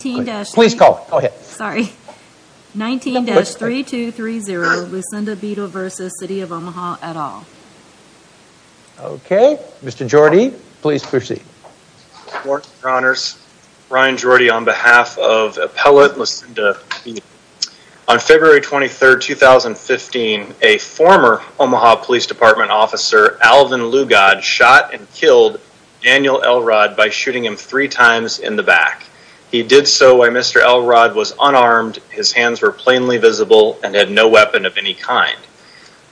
Please call, go ahead. Sorry, 19-3230 Lucinda Beadle v. City of Omaha et al. Okay, Mr. Jordy, please proceed. Your Honors, Ryan Jordy on behalf of Appellate Lucinda Beadle. On February 23rd, 2015, a former Omaha Police Department officer Alvin Lugod shot and killed Daniel Elrod by shooting him three times in the back. He did so when Mr. Elrod was unarmed, his hands were plainly visible, and had no weapon of any kind.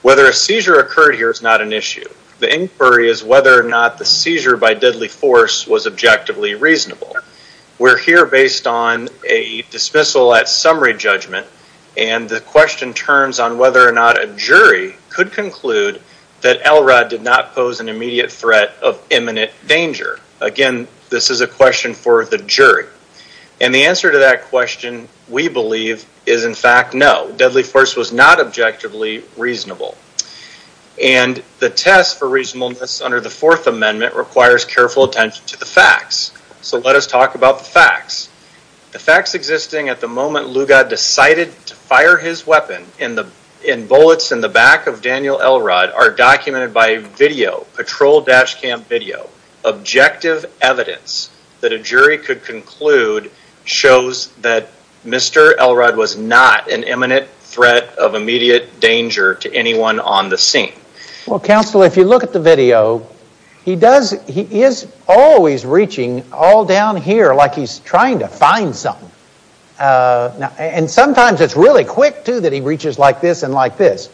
Whether a seizure occurred here is not an issue. The inquiry is whether or not the seizure by deadly force was objectively reasonable. We're here based on a dismissal at summary judgment and the question turns on whether or not a jury could conclude that Elrod did not pose an immediate threat of imminent danger. Again, this is a question for the jury, and the answer to that question, we believe, is in fact no. Deadly force was not objectively reasonable, and the test for reasonableness under the Fourth Amendment requires careful attention to the facts, so let us talk about the facts. The facts existing at the moment Lugod decided to fire his weapon in objective evidence that a jury could conclude shows that Mr. Elrod was not an imminent threat of immediate danger to anyone on the scene. Well, counsel, if you look at the video, he is always reaching all down here like he's trying to find something, and sometimes it's really quick, too, that he reaches like this and like this.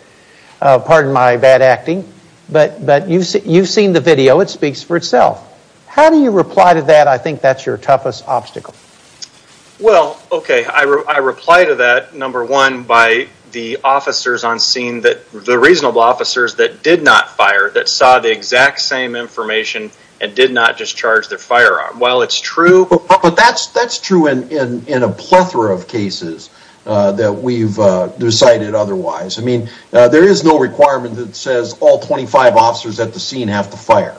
Pardon my bad acting, but you've seen the video. It speaks for itself. How do you reply to that? I think that's your toughest obstacle. Well, okay, I reply to that, number one, by the officers on scene, the reasonable officers that did not fire, that saw the exact same information and did not discharge their firearm. While it's true... But that's true in a way, but otherwise, I mean, there is no requirement that says all 25 officers at the scene have to fire.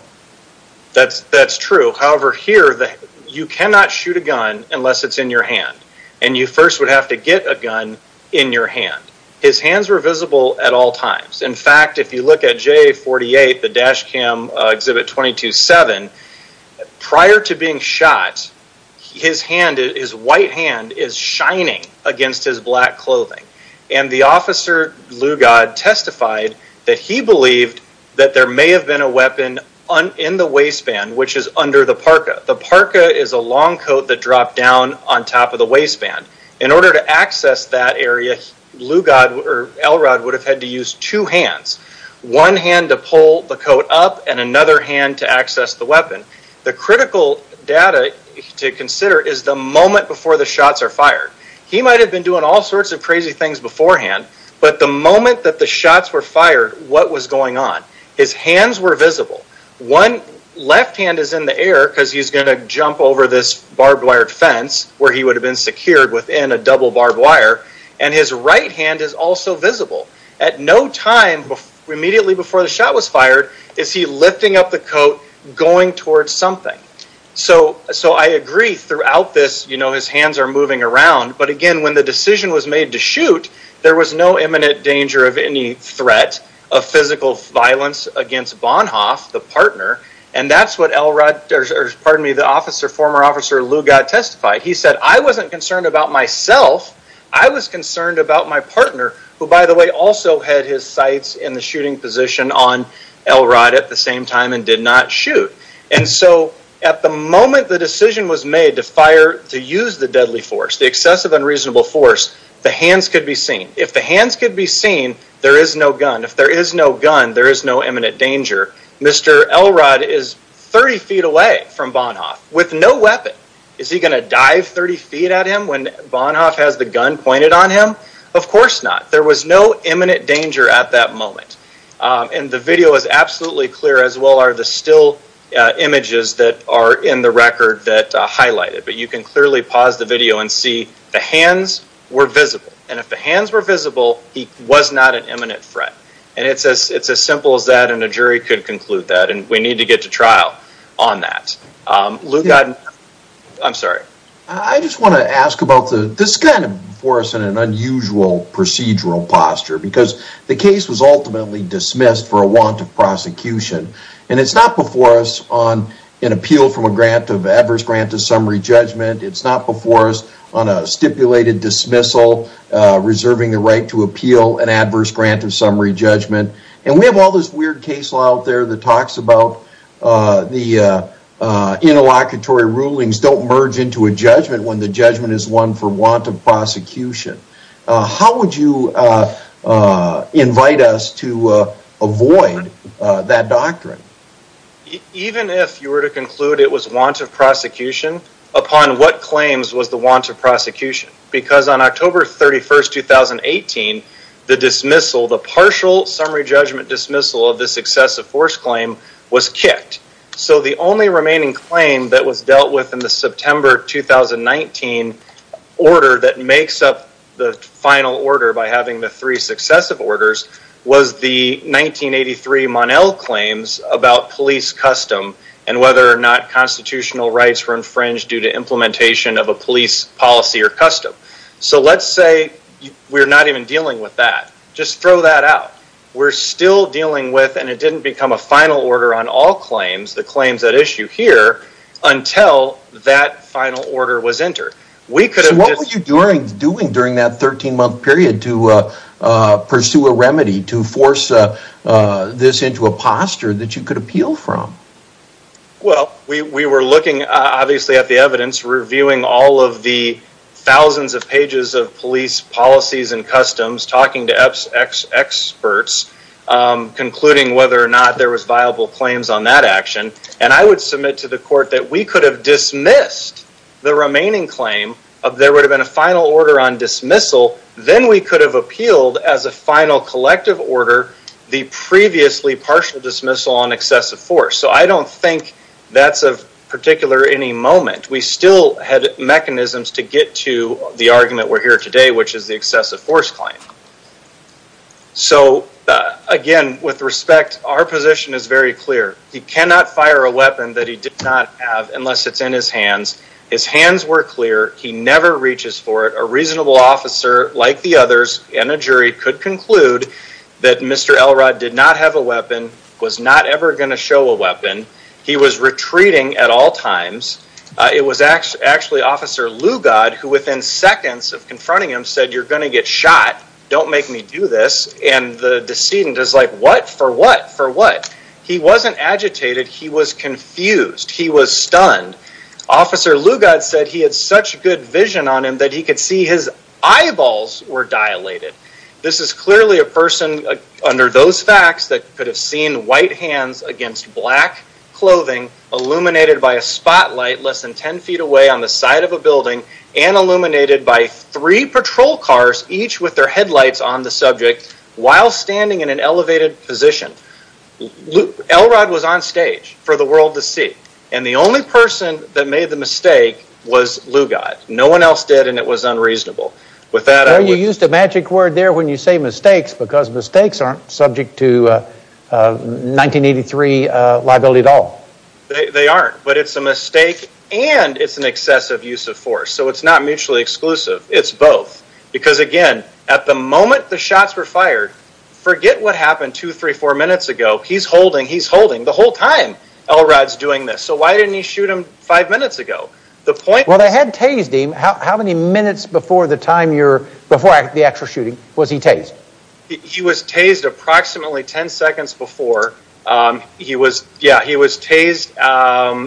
That's true. However, here, you cannot shoot a gun unless it's in your hand, and you first would have to get a gun in your hand. His hands were visible at all times. In fact, if you look at J48, the dashcam Exhibit 22-7, prior to being shot, his hand, his white hand, is shining against his black clothing, and the officer, Lugod, testified that he believed that there may have been a weapon in the waistband, which is under the parka. The parka is a long coat that dropped down on top of the waistband. In order to access that area, Lugod, or Elrod, would have had to use two hands, one hand to pull the coat up and another hand to access the weapon. The critical data to all sorts of crazy things beforehand, but the moment that the shots were fired, what was going on? His hands were visible. One left hand is in the air because he's going to jump over this barbed wire fence, where he would have been secured within a double barbed wire, and his right hand is also visible. At no time, immediately before the shot was fired, is he lifting up the coat, going towards something. So I agree throughout this, you know, his hands are visible. When the decision was made to shoot, there was no imminent danger of any threat of physical violence against Bonhoeff, the partner, and that's what Elrod, or pardon me, the officer, former officer Lugod, testified. He said, I wasn't concerned about myself, I was concerned about my partner, who by the way, also had his sights in the shooting position on Elrod at the same time and did not shoot. And so, at the moment the decision was made to fire, to use the deadly force, the excessive unreasonable force, the hands could be seen. If the hands could be seen, there is no gun. If there is no gun, there is no imminent danger. Mr. Elrod is 30 feet away from Bonhoeff with no weapon. Is he going to dive 30 feet at him when Bonhoeff has the gun pointed on him? Of course not. There was no imminent danger at that moment. And the video is absolutely clear, as well are the still images that are in the record that highlight it, but you can clearly pause the video and see the hands were visible, and if the hands were visible, he was not an imminent threat. And it's as simple as that, and a jury could conclude that, and we need to get to trial on that. Lugod, I'm sorry. I just want to ask about this kind of force in an unusual procedural posture, because the case was ultimately dismissed for a want of prosecution, and it's not before us on an appeal from a grant of adverse grant to summary judgment, it's not before us on a stipulated dismissal reserving the right to appeal an adverse grant of summary judgment, and we have all this weird case law out there that talks about the interlocutory rulings don't merge into a judgment when the judgment is one for want of prosecution. How would you invite us to avoid that doctrine? Even if you were to conclude it was want of prosecution, upon what claims was the want of prosecution? Because on October 31st, 2018, the dismissal, the partial summary judgment dismissal of this excessive force claim was kicked. So the only remaining claim that was dealt with in the September 2019 order that makes up the final order by having the three successive orders was the 1983 Monel claims about police custom and whether or not constitutional rights were infringed due to implementation of a police policy or custom. So let's say we're not even dealing with that. Just throw that out. We're still dealing with, and it didn't become a final order on all claims, the claims at issue here, until that final order was entered. So what were you doing during that 13-month period to pursue a remedy to force this into a posture that you could obviously have the evidence reviewing all of the thousands of pages of police policies and customs, talking to experts, concluding whether or not there was viable claims on that action. And I would submit to the court that we could have dismissed the remaining claim of there would have been a final order on dismissal, then we could have appealed as a final collective order the previously partial dismissal on excessive force. So I don't think that's of particular any moment. We still had mechanisms to get to the argument we're here today, which is the excessive force claim. So again, with respect, our position is very clear. He cannot fire a weapon that he did not have unless it's in his hands. His hands were clear. He never reaches for it. A reasonable officer like the others and a jury could conclude that Mr. Elrod did not have a weapon, was not ever going to It was actually Officer Lugod who within seconds of confronting him said, you're going to get shot. Don't make me do this. And the decedent is like, what? For what? For what? He wasn't agitated. He was confused. He was stunned. Officer Lugod said he had such good vision on him that he could see his eyeballs were dilated. This is clearly a person under those facts that could have seen white hands against black clothing illuminated by a spotlight less than 10 feet away on the side of a building and illuminated by three patrol cars, each with their headlights on the subject, while standing in an elevated position. Elrod was on stage for the world to see, and the only person that made the mistake was Lugod. No one else did, and it was unreasonable. With that, I would- Well, you used a magic word there when you say mistakes because mistakes aren't subject to 1983 liability at all. They aren't, but it's a mistake and it's an excessive use of force, so it's not mutually exclusive. It's both, because again, at the moment the shots were fired, forget what happened two, three, four minutes ago. He's holding, he's holding the whole time. Elrod's doing this, so why didn't he shoot him five minutes ago? The point- Well, they had tased him. How many minutes before the time you're- before the actual shooting, was he tased? He was tased approximately ten seconds before. He was, yeah, he was tased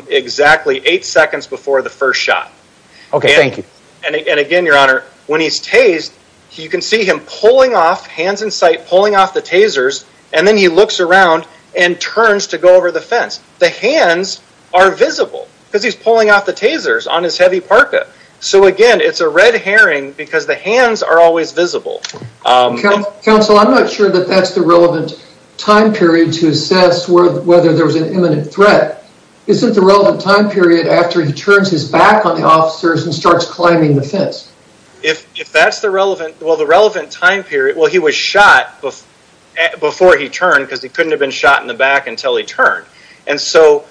exactly eight seconds before the first shot. Okay, thank you. And again, your honor, when he's tased, you can see him pulling off, hands in sight, pulling off the tasers, and then he looks around and turns to go over the fence. The hands are visible because he's pulling off the tasers on his heavy parka. So again, it's a red herring because the hands are always visible. Counsel, I'm not sure that that's the relevant time period to assess whether there was an imminent threat. Isn't the relevant time period after he turns his back on the officers and starts climbing the fence? If that's the relevant, well, the relevant time period, well, he was shot before he turned because he couldn't have been shot in the back until he turned, and so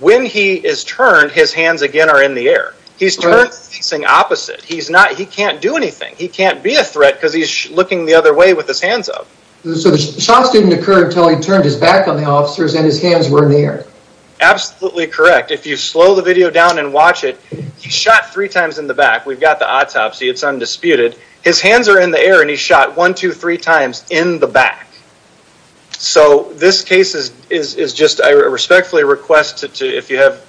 when he is turned, his hands again are in the air. He's turned facing opposite. He's not, he can't do anything. He can't be a threat because he's looking the other way with his hands up. So the shot didn't occur until he turned his back on the officers and his hands were in the air. Absolutely correct. If you slow the video down and watch it, he shot three times in the back. We've got the autopsy, it's undisputed. His hands are in the air and he shot one, two, three times in the back. So this case is just, I respectfully request that if you have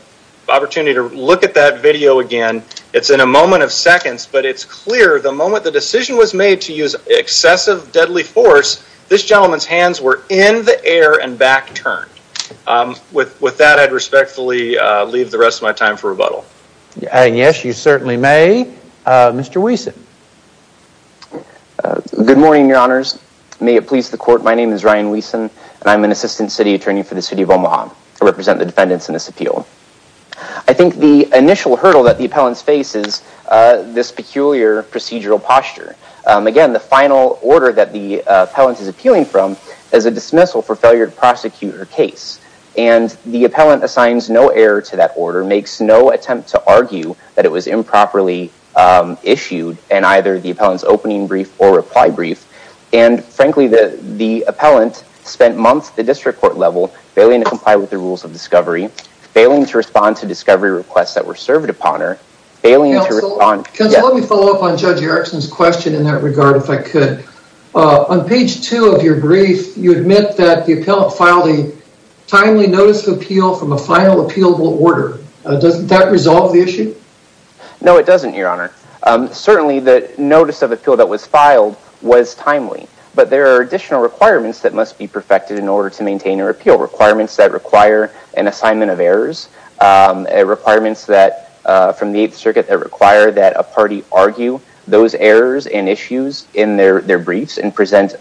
opportunity to look at that video again, it's in a moment of seconds, but it's clear the moment the decision was made to use excessive deadly force, this gentleman's hands were in the air and back turned. With that, I'd respectfully leave the rest of my time for rebuttal. Yes, you certainly may. Mr. Wiesen. Good morning, Your Honors. May it please the court, my name is Ryan Wiesen and I'm an Assistant City Attorney for the City of Washington. I'm here to present the defendants in this appeal. I think the initial hurdle that the appellant's face is this peculiar procedural posture. Again, the final order that the appellant is appealing from is a dismissal for failure to prosecute her case. And the appellant assigns no error to that order, makes no attempt to argue that it was improperly issued in either the appellant's opening brief or reply brief. And frankly, the the appellant spent months at the district court level failing to comply with the rules of discovery, failing to respond to discovery requests that were served upon her, failing to respond... Counselor, let me follow up on Judge Erickson's question in that regard if I could. On page two of your brief, you admit that the appellant filed a timely notice of appeal from a final appealable order. Doesn't that resolve the issue? No, it doesn't, Your Honor. Certainly, the notice of appeal that was filed was timely, but there are additional requirements that require an assignment of errors. Requirements from the Eighth Circuit that require that a party argue those errors and issues in their briefs and present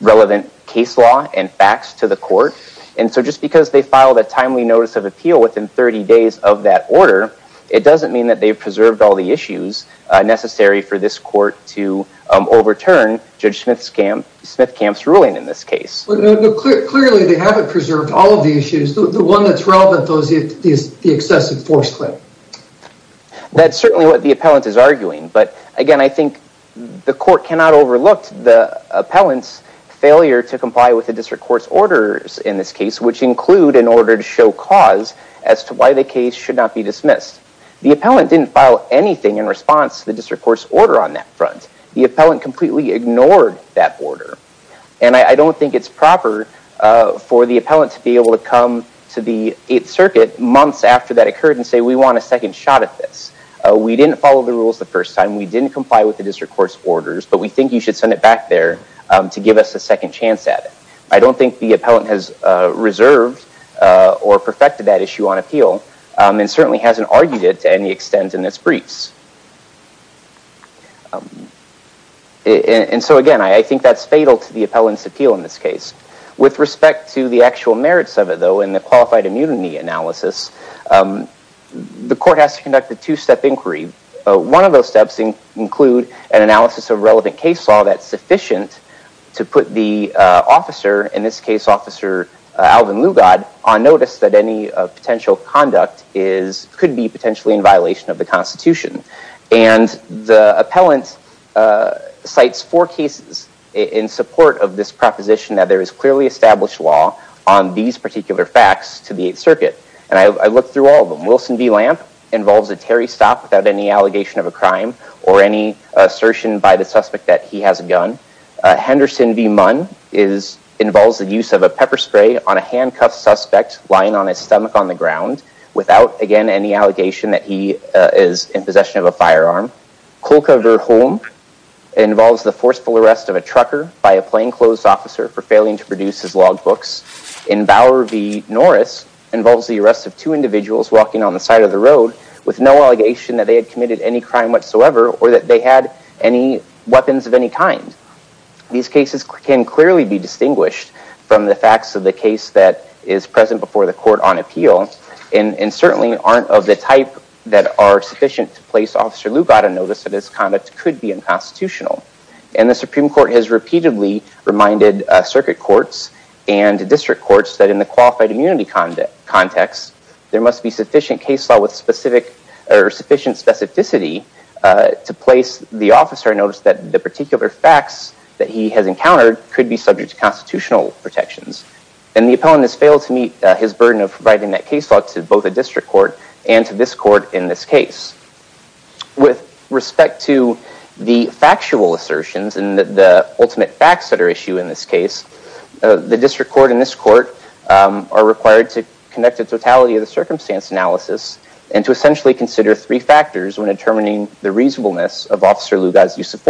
relevant case law and facts to the court. And so just because they filed a timely notice of appeal within 30 days of that order, it doesn't mean that they've preserved all the issues necessary for this court to overturn Judge Smithkamp's ruling in this case. Clearly, they haven't preserved all of the issues. The one that's relevant is the excessive force claim. That's certainly what the appellant is arguing, but again, I think the court cannot overlook the appellant's failure to comply with the district court's orders in this case, which include an order to show cause as to why the case should not be dismissed. The appellant didn't file anything in response to the district court's order on that front. The appellant completely ignored that order, and I don't think it's proper for the appellant to be able to come to the Eighth Circuit months after that occurred and say, we want a second shot at this. We didn't follow the rules the first time. We didn't comply with the district court's orders, but we think you should send it back there to give us a second chance at it. I don't think the appellant has reserved or perfected that issue on appeal and certainly hasn't argued it to any extent in its briefs. And so again, I think that's fatal to the appellant's appeal in this case. With respect to the actual merits of it, though, in the qualified immunity analysis, the court has to conduct a two-step inquiry. One of those steps include an analysis of relevant case law that's sufficient to put the officer, in this case Officer Alvin Lugod, on notice that any potential conduct could be potentially in violation of the Constitution. And the appellant cites four cases in support of this proposition that there is clearly established law on these particular facts to the Eighth Circuit. And I looked through all of them. Wilson v. Lamp involves a Terry stop without any allegation of a crime or any assertion by the suspect that he has a gun. Henderson v. Munn involves the use of a sniper spray on a handcuffed suspect lying on his stomach on the ground without, again, any allegation that he is in possession of a firearm. Kolka v. Holm involves the forceful arrest of a trucker by a plainclothes officer for failing to produce his logbooks. And Bower v. Norris involves the arrest of two individuals walking on the side of the road with no allegation that they had committed any crime whatsoever or that they had any weapons of any kind. These cases can clearly be distinguished from the facts of the case that is present before the court on appeal and certainly aren't of the type that are sufficient to place Officer Lugod on notice that his conduct could be unconstitutional. And the Supreme Court has repeatedly reminded circuit courts and district courts that in the qualified immunity context, there must be sufficient case law with specific or sufficient specificity to place the officer on notice that the subject to constitutional protections. And the appellant has failed to meet his burden of providing that case law to both a district court and to this court in this case. With respect to the factual assertions and the ultimate facts that are issue in this case, the district court and this court are required to conduct a totality of the circumstance analysis and to essentially consider three factors when determining the reasonableness of Officer Lugod's use of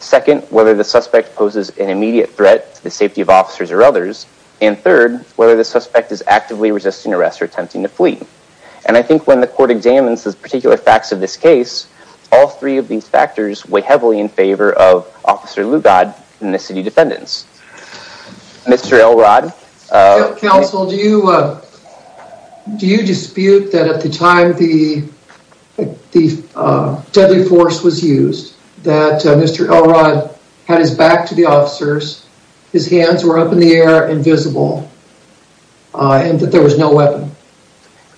Second, whether the suspect poses an immediate threat to the safety of officers or others. And third, whether the suspect is actively resisting arrest or attempting to flee. And I think when the court examines those particular facts of this case, all three of these factors weigh heavily in favor of Officer Lugod and the city defendants. Mr. Elrod. Counsel, do you dispute that at the time the deadly force was used that Mr. Elrod had his back to the officers, his hands were up in the air invisible, and that there was no weapon?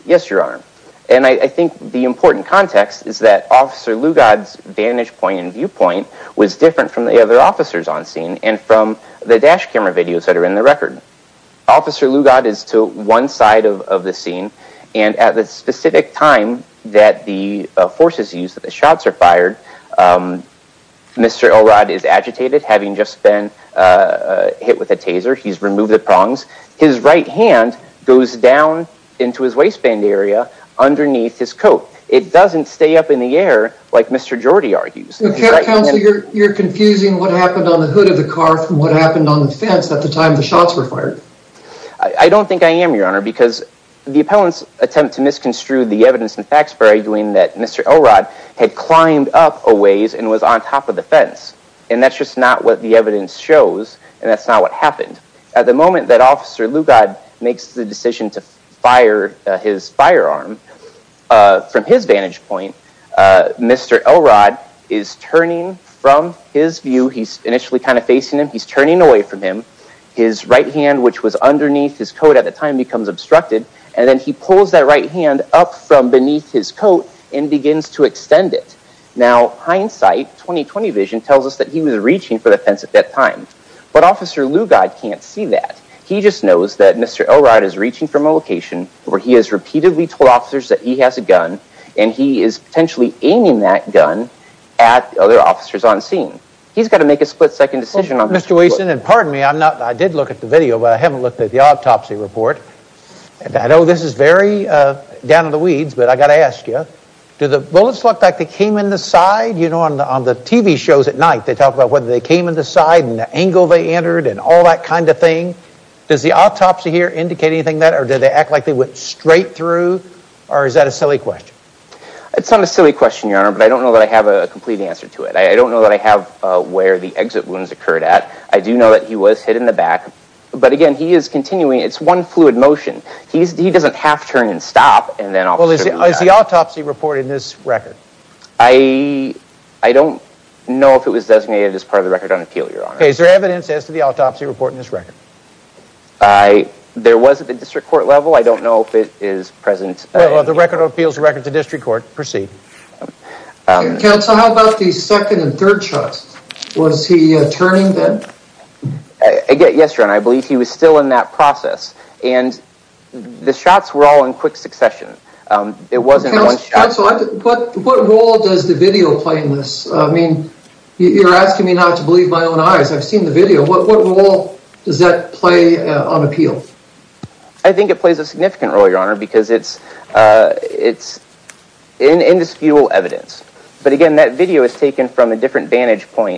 Yes, your honor. And I think the important context is that Officer Lugod's vantage point and viewpoint was different from the other officers on scene and from the dash camera videos that are in the record. Officer Lugod is to one side of the scene and at the specific time that the forces use that the shots are fired, Mr. Elrod is agitated having just been hit with a taser. He's removed the prongs. His right hand goes down into his waistband area underneath his coat. It doesn't stay up in the air like Mr. Geordi argues. Counsel, you're confusing what happened on the hood of the car from what happened on the fence at the time the shots were fired. The appellants attempt to misconstrue the evidence in facts by arguing that Mr. Elrod had climbed up a ways and was on top of the fence. And that's just not what the evidence shows and that's not what happened. At the moment that Officer Lugod makes the decision to fire his firearm from his vantage point, Mr. Elrod is turning from his view. He's initially kind of facing him. He's turning away from him. His right hand which was underneath his coat at the time, he pulls that right hand up from beneath his coat and begins to extend it. Now hindsight, 20-20 vision tells us that he was reaching for the fence at that time. But Officer Lugod can't see that. He just knows that Mr. Elrod is reaching from a location where he has repeatedly told officers that he has a gun and he is potentially aiming that gun at other officers on scene. He's got to make a split-second decision on this. Mr. Wiesen, and pardon me, I'm not, I did look at the autopsy report and I know this is very down in the weeds but I got to ask you, do the bullets look like they came in the side? You know on the TV shows at night they talk about whether they came in the side and the angle they entered and all that kind of thing. Does the autopsy here indicate anything that or did they act like they went straight through or is that a silly question? It's not a silly question, Your Honor, but I don't know that I have a complete answer to it. I don't know that I have where the exit wounds occurred at. I do know that he was hit in the back, but again he is continuing, it's one fluid motion. He doesn't half turn and stop and then... Well is the autopsy report in this record? I don't know if it was designated as part of the record on appeal, Your Honor. Is there evidence as to the autopsy report in this record? There was at the district court level. I don't know if it is present... Well the record of appeals is a record to district court. Proceed. Counsel, how about the Yes, Your Honor, I believe he was still in that process and the shots were all in quick succession. It wasn't one shot. Counsel, what role does the video play in this? I mean you're asking me not to believe my own eyes. I've seen the video. What role does that play on appeal? I think it plays a significant role, Your Honor, because it's it's indisputable evidence, but again that video is taken from a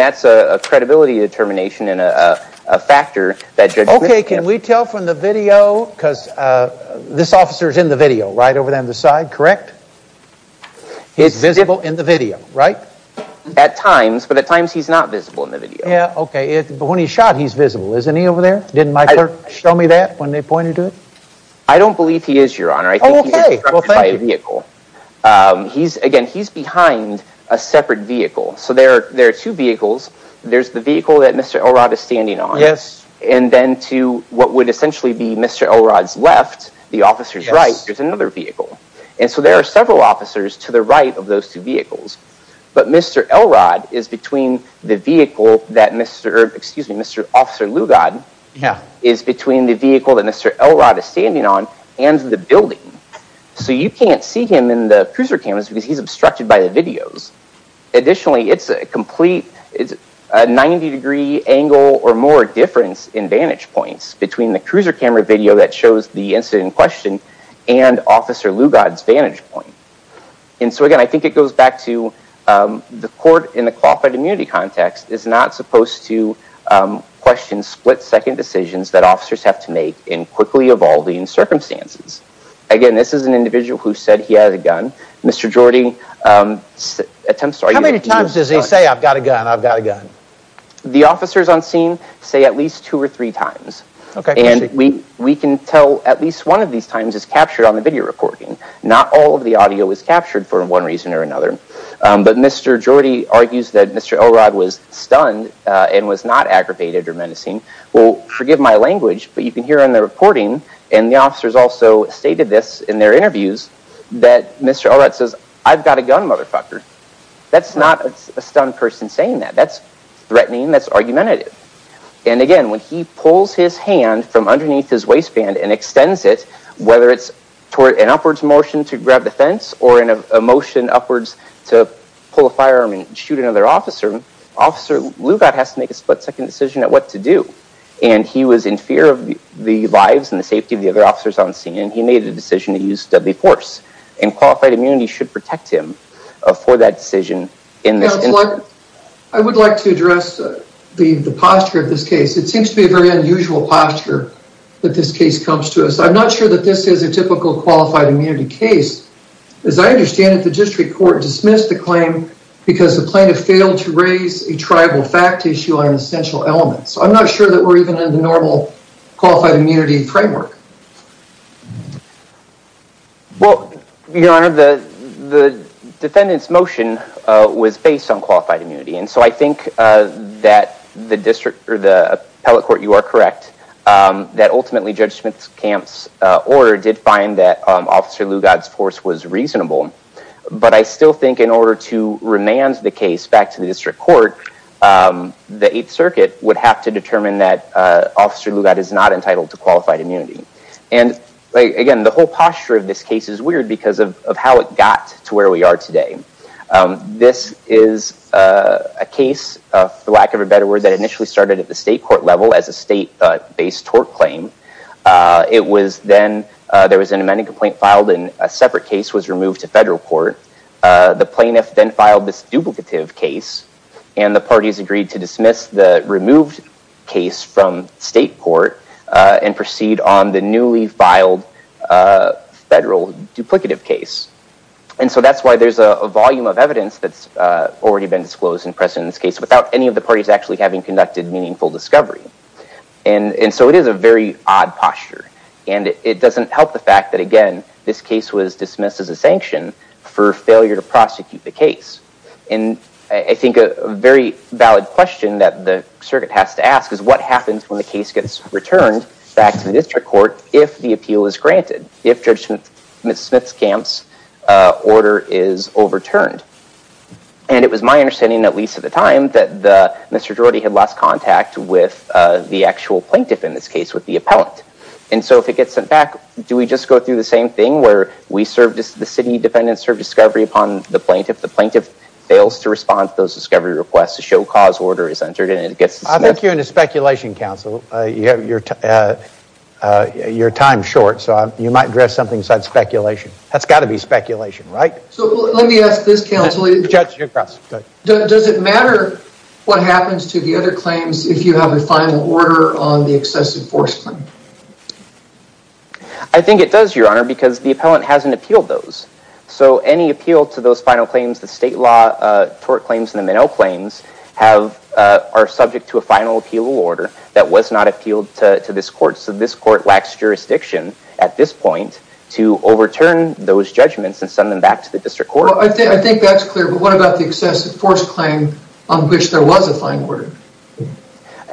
that's a credibility determination and a factor that... Okay, can we tell from the video, because this officer is in the video right over there on the side, correct? He's visible in the video, right? At times, but at times he's not visible in the video. Yeah, okay, but when he shot he's visible, isn't he over there? Didn't my clerk show me that when they pointed to it? I don't believe he is, Your Honor. I think he was struck by a vehicle. He's, again, he's behind a separate vehicle, so there are two vehicles. There's the vehicle that Mr. Elrod is standing on, and then to what would essentially be Mr. Elrod's left, the officer's right, there's another vehicle, and so there are several officers to the right of those two vehicles, but Mr. Elrod is between the vehicle that Mr., excuse me, Mr. Officer Lugod is between the vehicle that Mr. Elrod is standing on and the building, so you can't see him in the cruiser cameras because he's obstructed by the videos. Additionally, it's a complete, it's a 90-degree angle or more difference in vantage points between the cruiser camera video that shows the incident in question and Officer Lugod's vantage point, and so again, I think it goes back to the court in the qualified immunity context is not supposed to question split-second decisions that officers have to make in quickly evolving circumstances. Again, this is an individual who said he had a gun. Mr. Jordy attempts to argue. How many times does he say, I've got a gun, I've got a gun? The officers on scene say at least two or three times, and we we can tell at least one of these times is captured on the video recording. Not all of the audio was captured for one reason or another, but Mr. Jordy argues that Mr. Elrod was stunned and was not aggravated or menacing. Well, forgive my language, but you can hear in the reporting, and the officers also stated this in their I've got a gun, motherfucker. That's not a stunned person saying that. That's threatening. That's argumentative, and again, when he pulls his hand from underneath his waistband and extends it, whether it's toward an upwards motion to grab the fence or in a motion upwards to pull a firearm and shoot another officer, Officer Lugod has to make a split-second decision at what to do, and he was in fear of the lives and the safety of the other officers on scene, and made a decision to use deadly force, and qualified immunity should protect him for that decision. I would like to address the posture of this case. It seems to be a very unusual posture that this case comes to us. I'm not sure that this is a typical qualified immunity case. As I understand it, the district court dismissed the claim because the plaintiff failed to raise a tribal fact issue on essential elements. I'm not sure that we're even in the normal qualified immunity framework. Well, Your Honor, the defendant's motion was based on qualified immunity, and so I think that the district or the appellate court, you are correct, that ultimately Judge Schmitz-Camp's order did find that Officer Lugod's force was reasonable, but I still think in order to remand the case back to the district court, the Eighth Circuit would have to determine that Officer Lugod is not entitled to qualified immunity. And again, the whole posture of this case is weird because of how it got to where we are today. This is a case, for lack of a better word, that initially started at the state court level as a state-based tort claim. It was then, there was an amending complaint filed, and a separate case was removed to federal court. The plaintiff then filed this duplicative case, and the parties agreed to dismiss the removed case from state court and proceed on the newly filed federal duplicative case. And so that's why there's a volume of evidence that's already been disclosed in precedent in this case without any of the parties actually having conducted meaningful discovery. And so it is a very odd posture, and it doesn't help the fact that, again, this case was dismissed as a sanction for failure to prosecute the case. And I think a very valid question that the circuit has to ask is what happens when the case gets returned back to the district court if the appeal is granted, if Judge Smith's order is overturned. And it was my understanding, at least at the time, that Mr. Jordy had lost contact with the actual plaintiff in this case, with the appellant. And so if it gets sent back, do we just go through the same thing where we served as the city defendants serve discovery upon the plaintiff, the plaintiff fails to respond to those discovery requests, a show cause order is entered, and it gets... I think you're in a speculation council. You have your time short, so you might address something besides speculation. That's got to be speculation, right? So let me ask this counsel. Judge, you're cross. Does it matter what happens to the other claims if you have a final order on the excessive force claim? I think it does, Your Honor, because the appellant hasn't appealed those. So any appeal to those final claims, the state law tort claims and the Minnell claims, are subject to a final appeal order that was not appealed to this court. So this court lacks jurisdiction at this point to overturn those judgments and send them back to the district court. I think that's clear, but what about the excessive force claim on which there was a final order?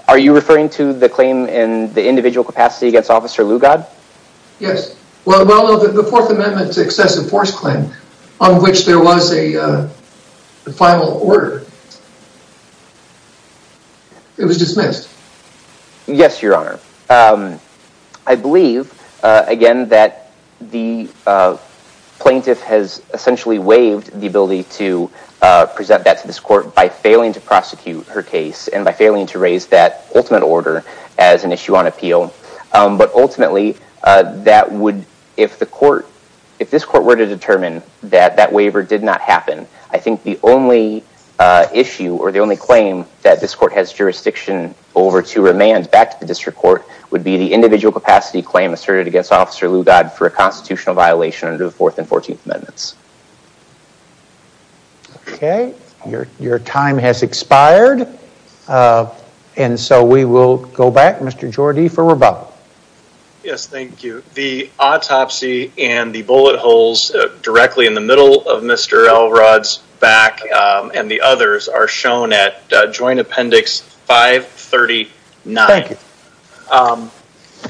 Are you referring to the claim in the fourth amendment to excessive force claim on which there was a final order? It was dismissed. Yes, Your Honor. I believe, again, that the plaintiff has essentially waived the ability to present that to this court by failing to prosecute her case and by failing to raise that ultimate order as an issue on the court. If this court were to determine that that waiver did not happen, I think the only issue or the only claim that this court has jurisdiction over to remand back to the district court would be the individual capacity claim asserted against Officer Lugod for a constitutional violation under the 4th and 14th Amendments. Okay, your time has expired and so we will go back to Mr. Jordy for rebuttal. Yes, thank you. The autopsy and the bullet holes directly in the middle of Mr. Elrod's back and the others are shown at joint appendix 539. Thank you.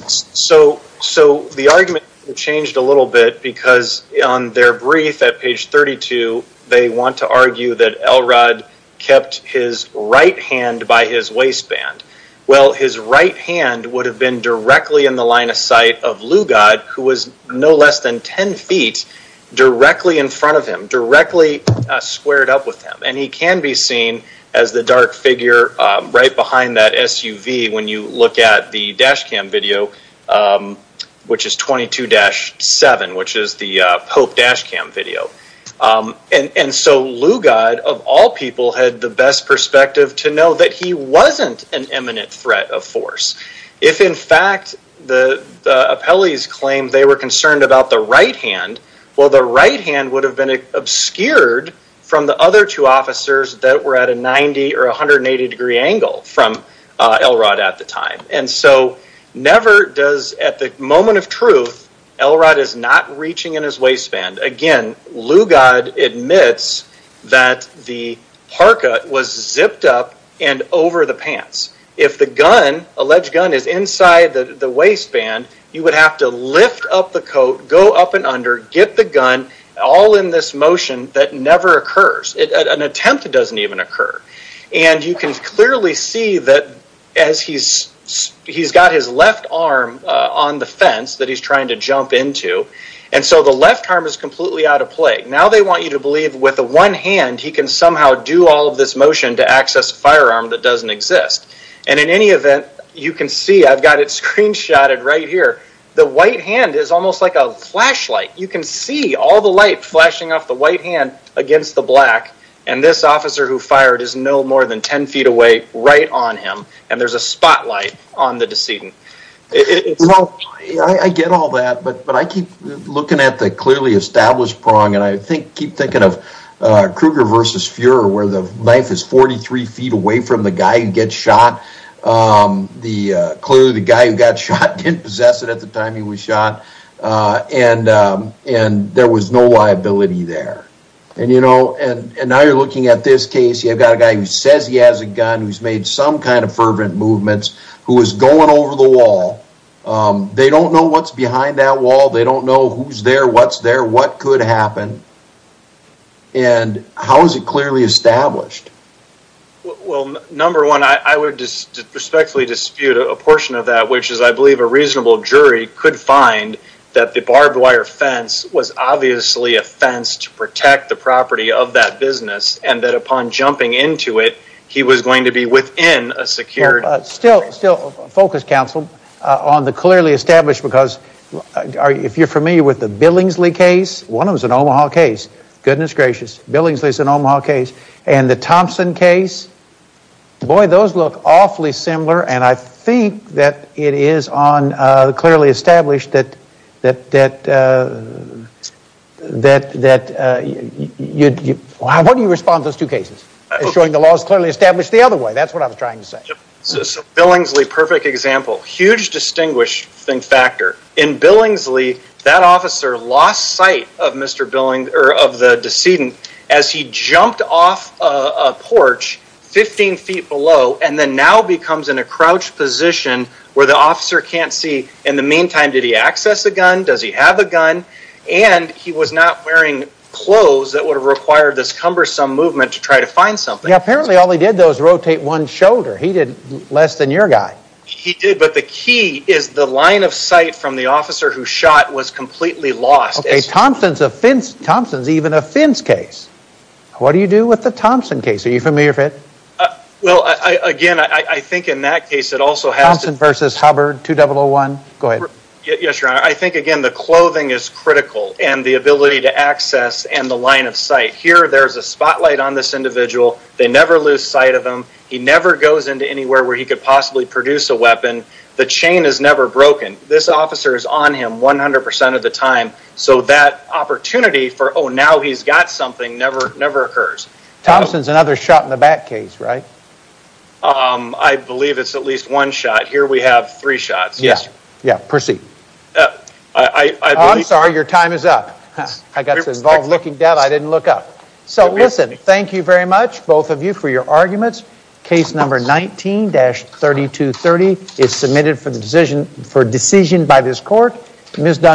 So the argument changed a little bit because on their brief at page 32 they want to argue that Elrod kept his right hand by his right hand would have been directly in the line of sight of Lugod who was no less than 10 feet directly in front of him, directly squared up with him, and he can be seen as the dark figure right behind that SUV when you look at the dash cam video which is 22-7 which is the Pope dash cam video. And so Lugod, of all people, had the best perspective to know that he wasn't an imminent threat of force. If in fact the appellees claimed they were concerned about the right hand, well the right hand would have been obscured from the other two officers that were at a 90 or 180 degree angle from Elrod at the time. And so never does at the moment of truth Elrod is not reaching in his waistband. Again, Lugod admits that the parka was zipped up and over the pants. If the gun, alleged gun, is inside the waistband, you would have to lift up the coat, go up and under, get the gun, all in this motion that never occurs. An attempt doesn't even occur. And you can clearly see that as he's got his left arm on the fence that he's trying to jump into, and so the left arm is completely out of play. Now they want you to believe with the one hand he can somehow do all of this motion to access a firearm that doesn't exist. And in any event, you can see, I've got it screenshotted right here, the white hand is almost like a flashlight. You can see all the light flashing off the white hand against the black, and this officer who fired is no more than 10 feet away right on him, and there's a spotlight on the decedent. I get all that, but I keep looking at the clearly established prong, and I keep thinking of Kruger versus Fuhrer, where the knife is 43 feet away from the guy who gets shot. Clearly the guy who got shot didn't possess it at the time he was shot, and there was no liability there. And now you're looking at this case, you've got a guy who says he has a gun, who's made some kind of fervent movements, who is going over the wall. They don't know what's behind that wall, they don't know who's there, what's there, what could happen, and how is it clearly established? Well, number one, I would respectfully dispute a portion of that, which is, I believe a reasonable jury could find that the barbed wire fence was obviously a fence to protect the property of that business, and that upon jumping into it, he was going to be within a secured... Still, still, focus counsel on the with the Billingsley case, one was an Omaha case, goodness gracious, Billingsley is an Omaha case, and the Thompson case, boy, those look awfully similar, and I think that it is on clearly established that, that, that, that, that, you, what do you respond to those two cases? Showing the law is clearly established the other way, that's what I was trying to say. So Billingsley, perfect example, huge distinguishing factor. In Billingsley, that officer lost sight of Mr. Billingsley, or of the decedent, as he jumped off a porch 15 feet below, and then now becomes in a crouched position where the officer can't see. In the meantime, did he access a gun, does he have a gun, and he was not wearing clothes that would have required this cumbersome movement to try to find something. Yeah, apparently all he did those rotate one shoulder, he did less than your guy. He did, but the key is the line of sight from the officer who shot was completely lost. Okay, Thompson's a fence, Thompson's even a fence case. What do you do with the Thompson case, are you familiar with it? Well, again, I think in that case it also has... Thompson versus Hubbard, 2001, go ahead. Yes, your honor, I think again the clothing is critical, and the ability to access, and the line of sight. Here, there's a spotlight on this guy. He never goes into anywhere where he could possibly produce a weapon. The chain is never broken. This officer is on him 100% of the time, so that opportunity for, oh, now he's got something, never occurs. Thompson's another shot in the back case, right? I believe it's at least one shot. Here we have three shots. Yeah, proceed. I'm sorry, your time is up. I got so involved looking down, I didn't look up. So listen, thank you very much, both of you, for your arguments. Case number 19-3230 is submitted for decision by this court.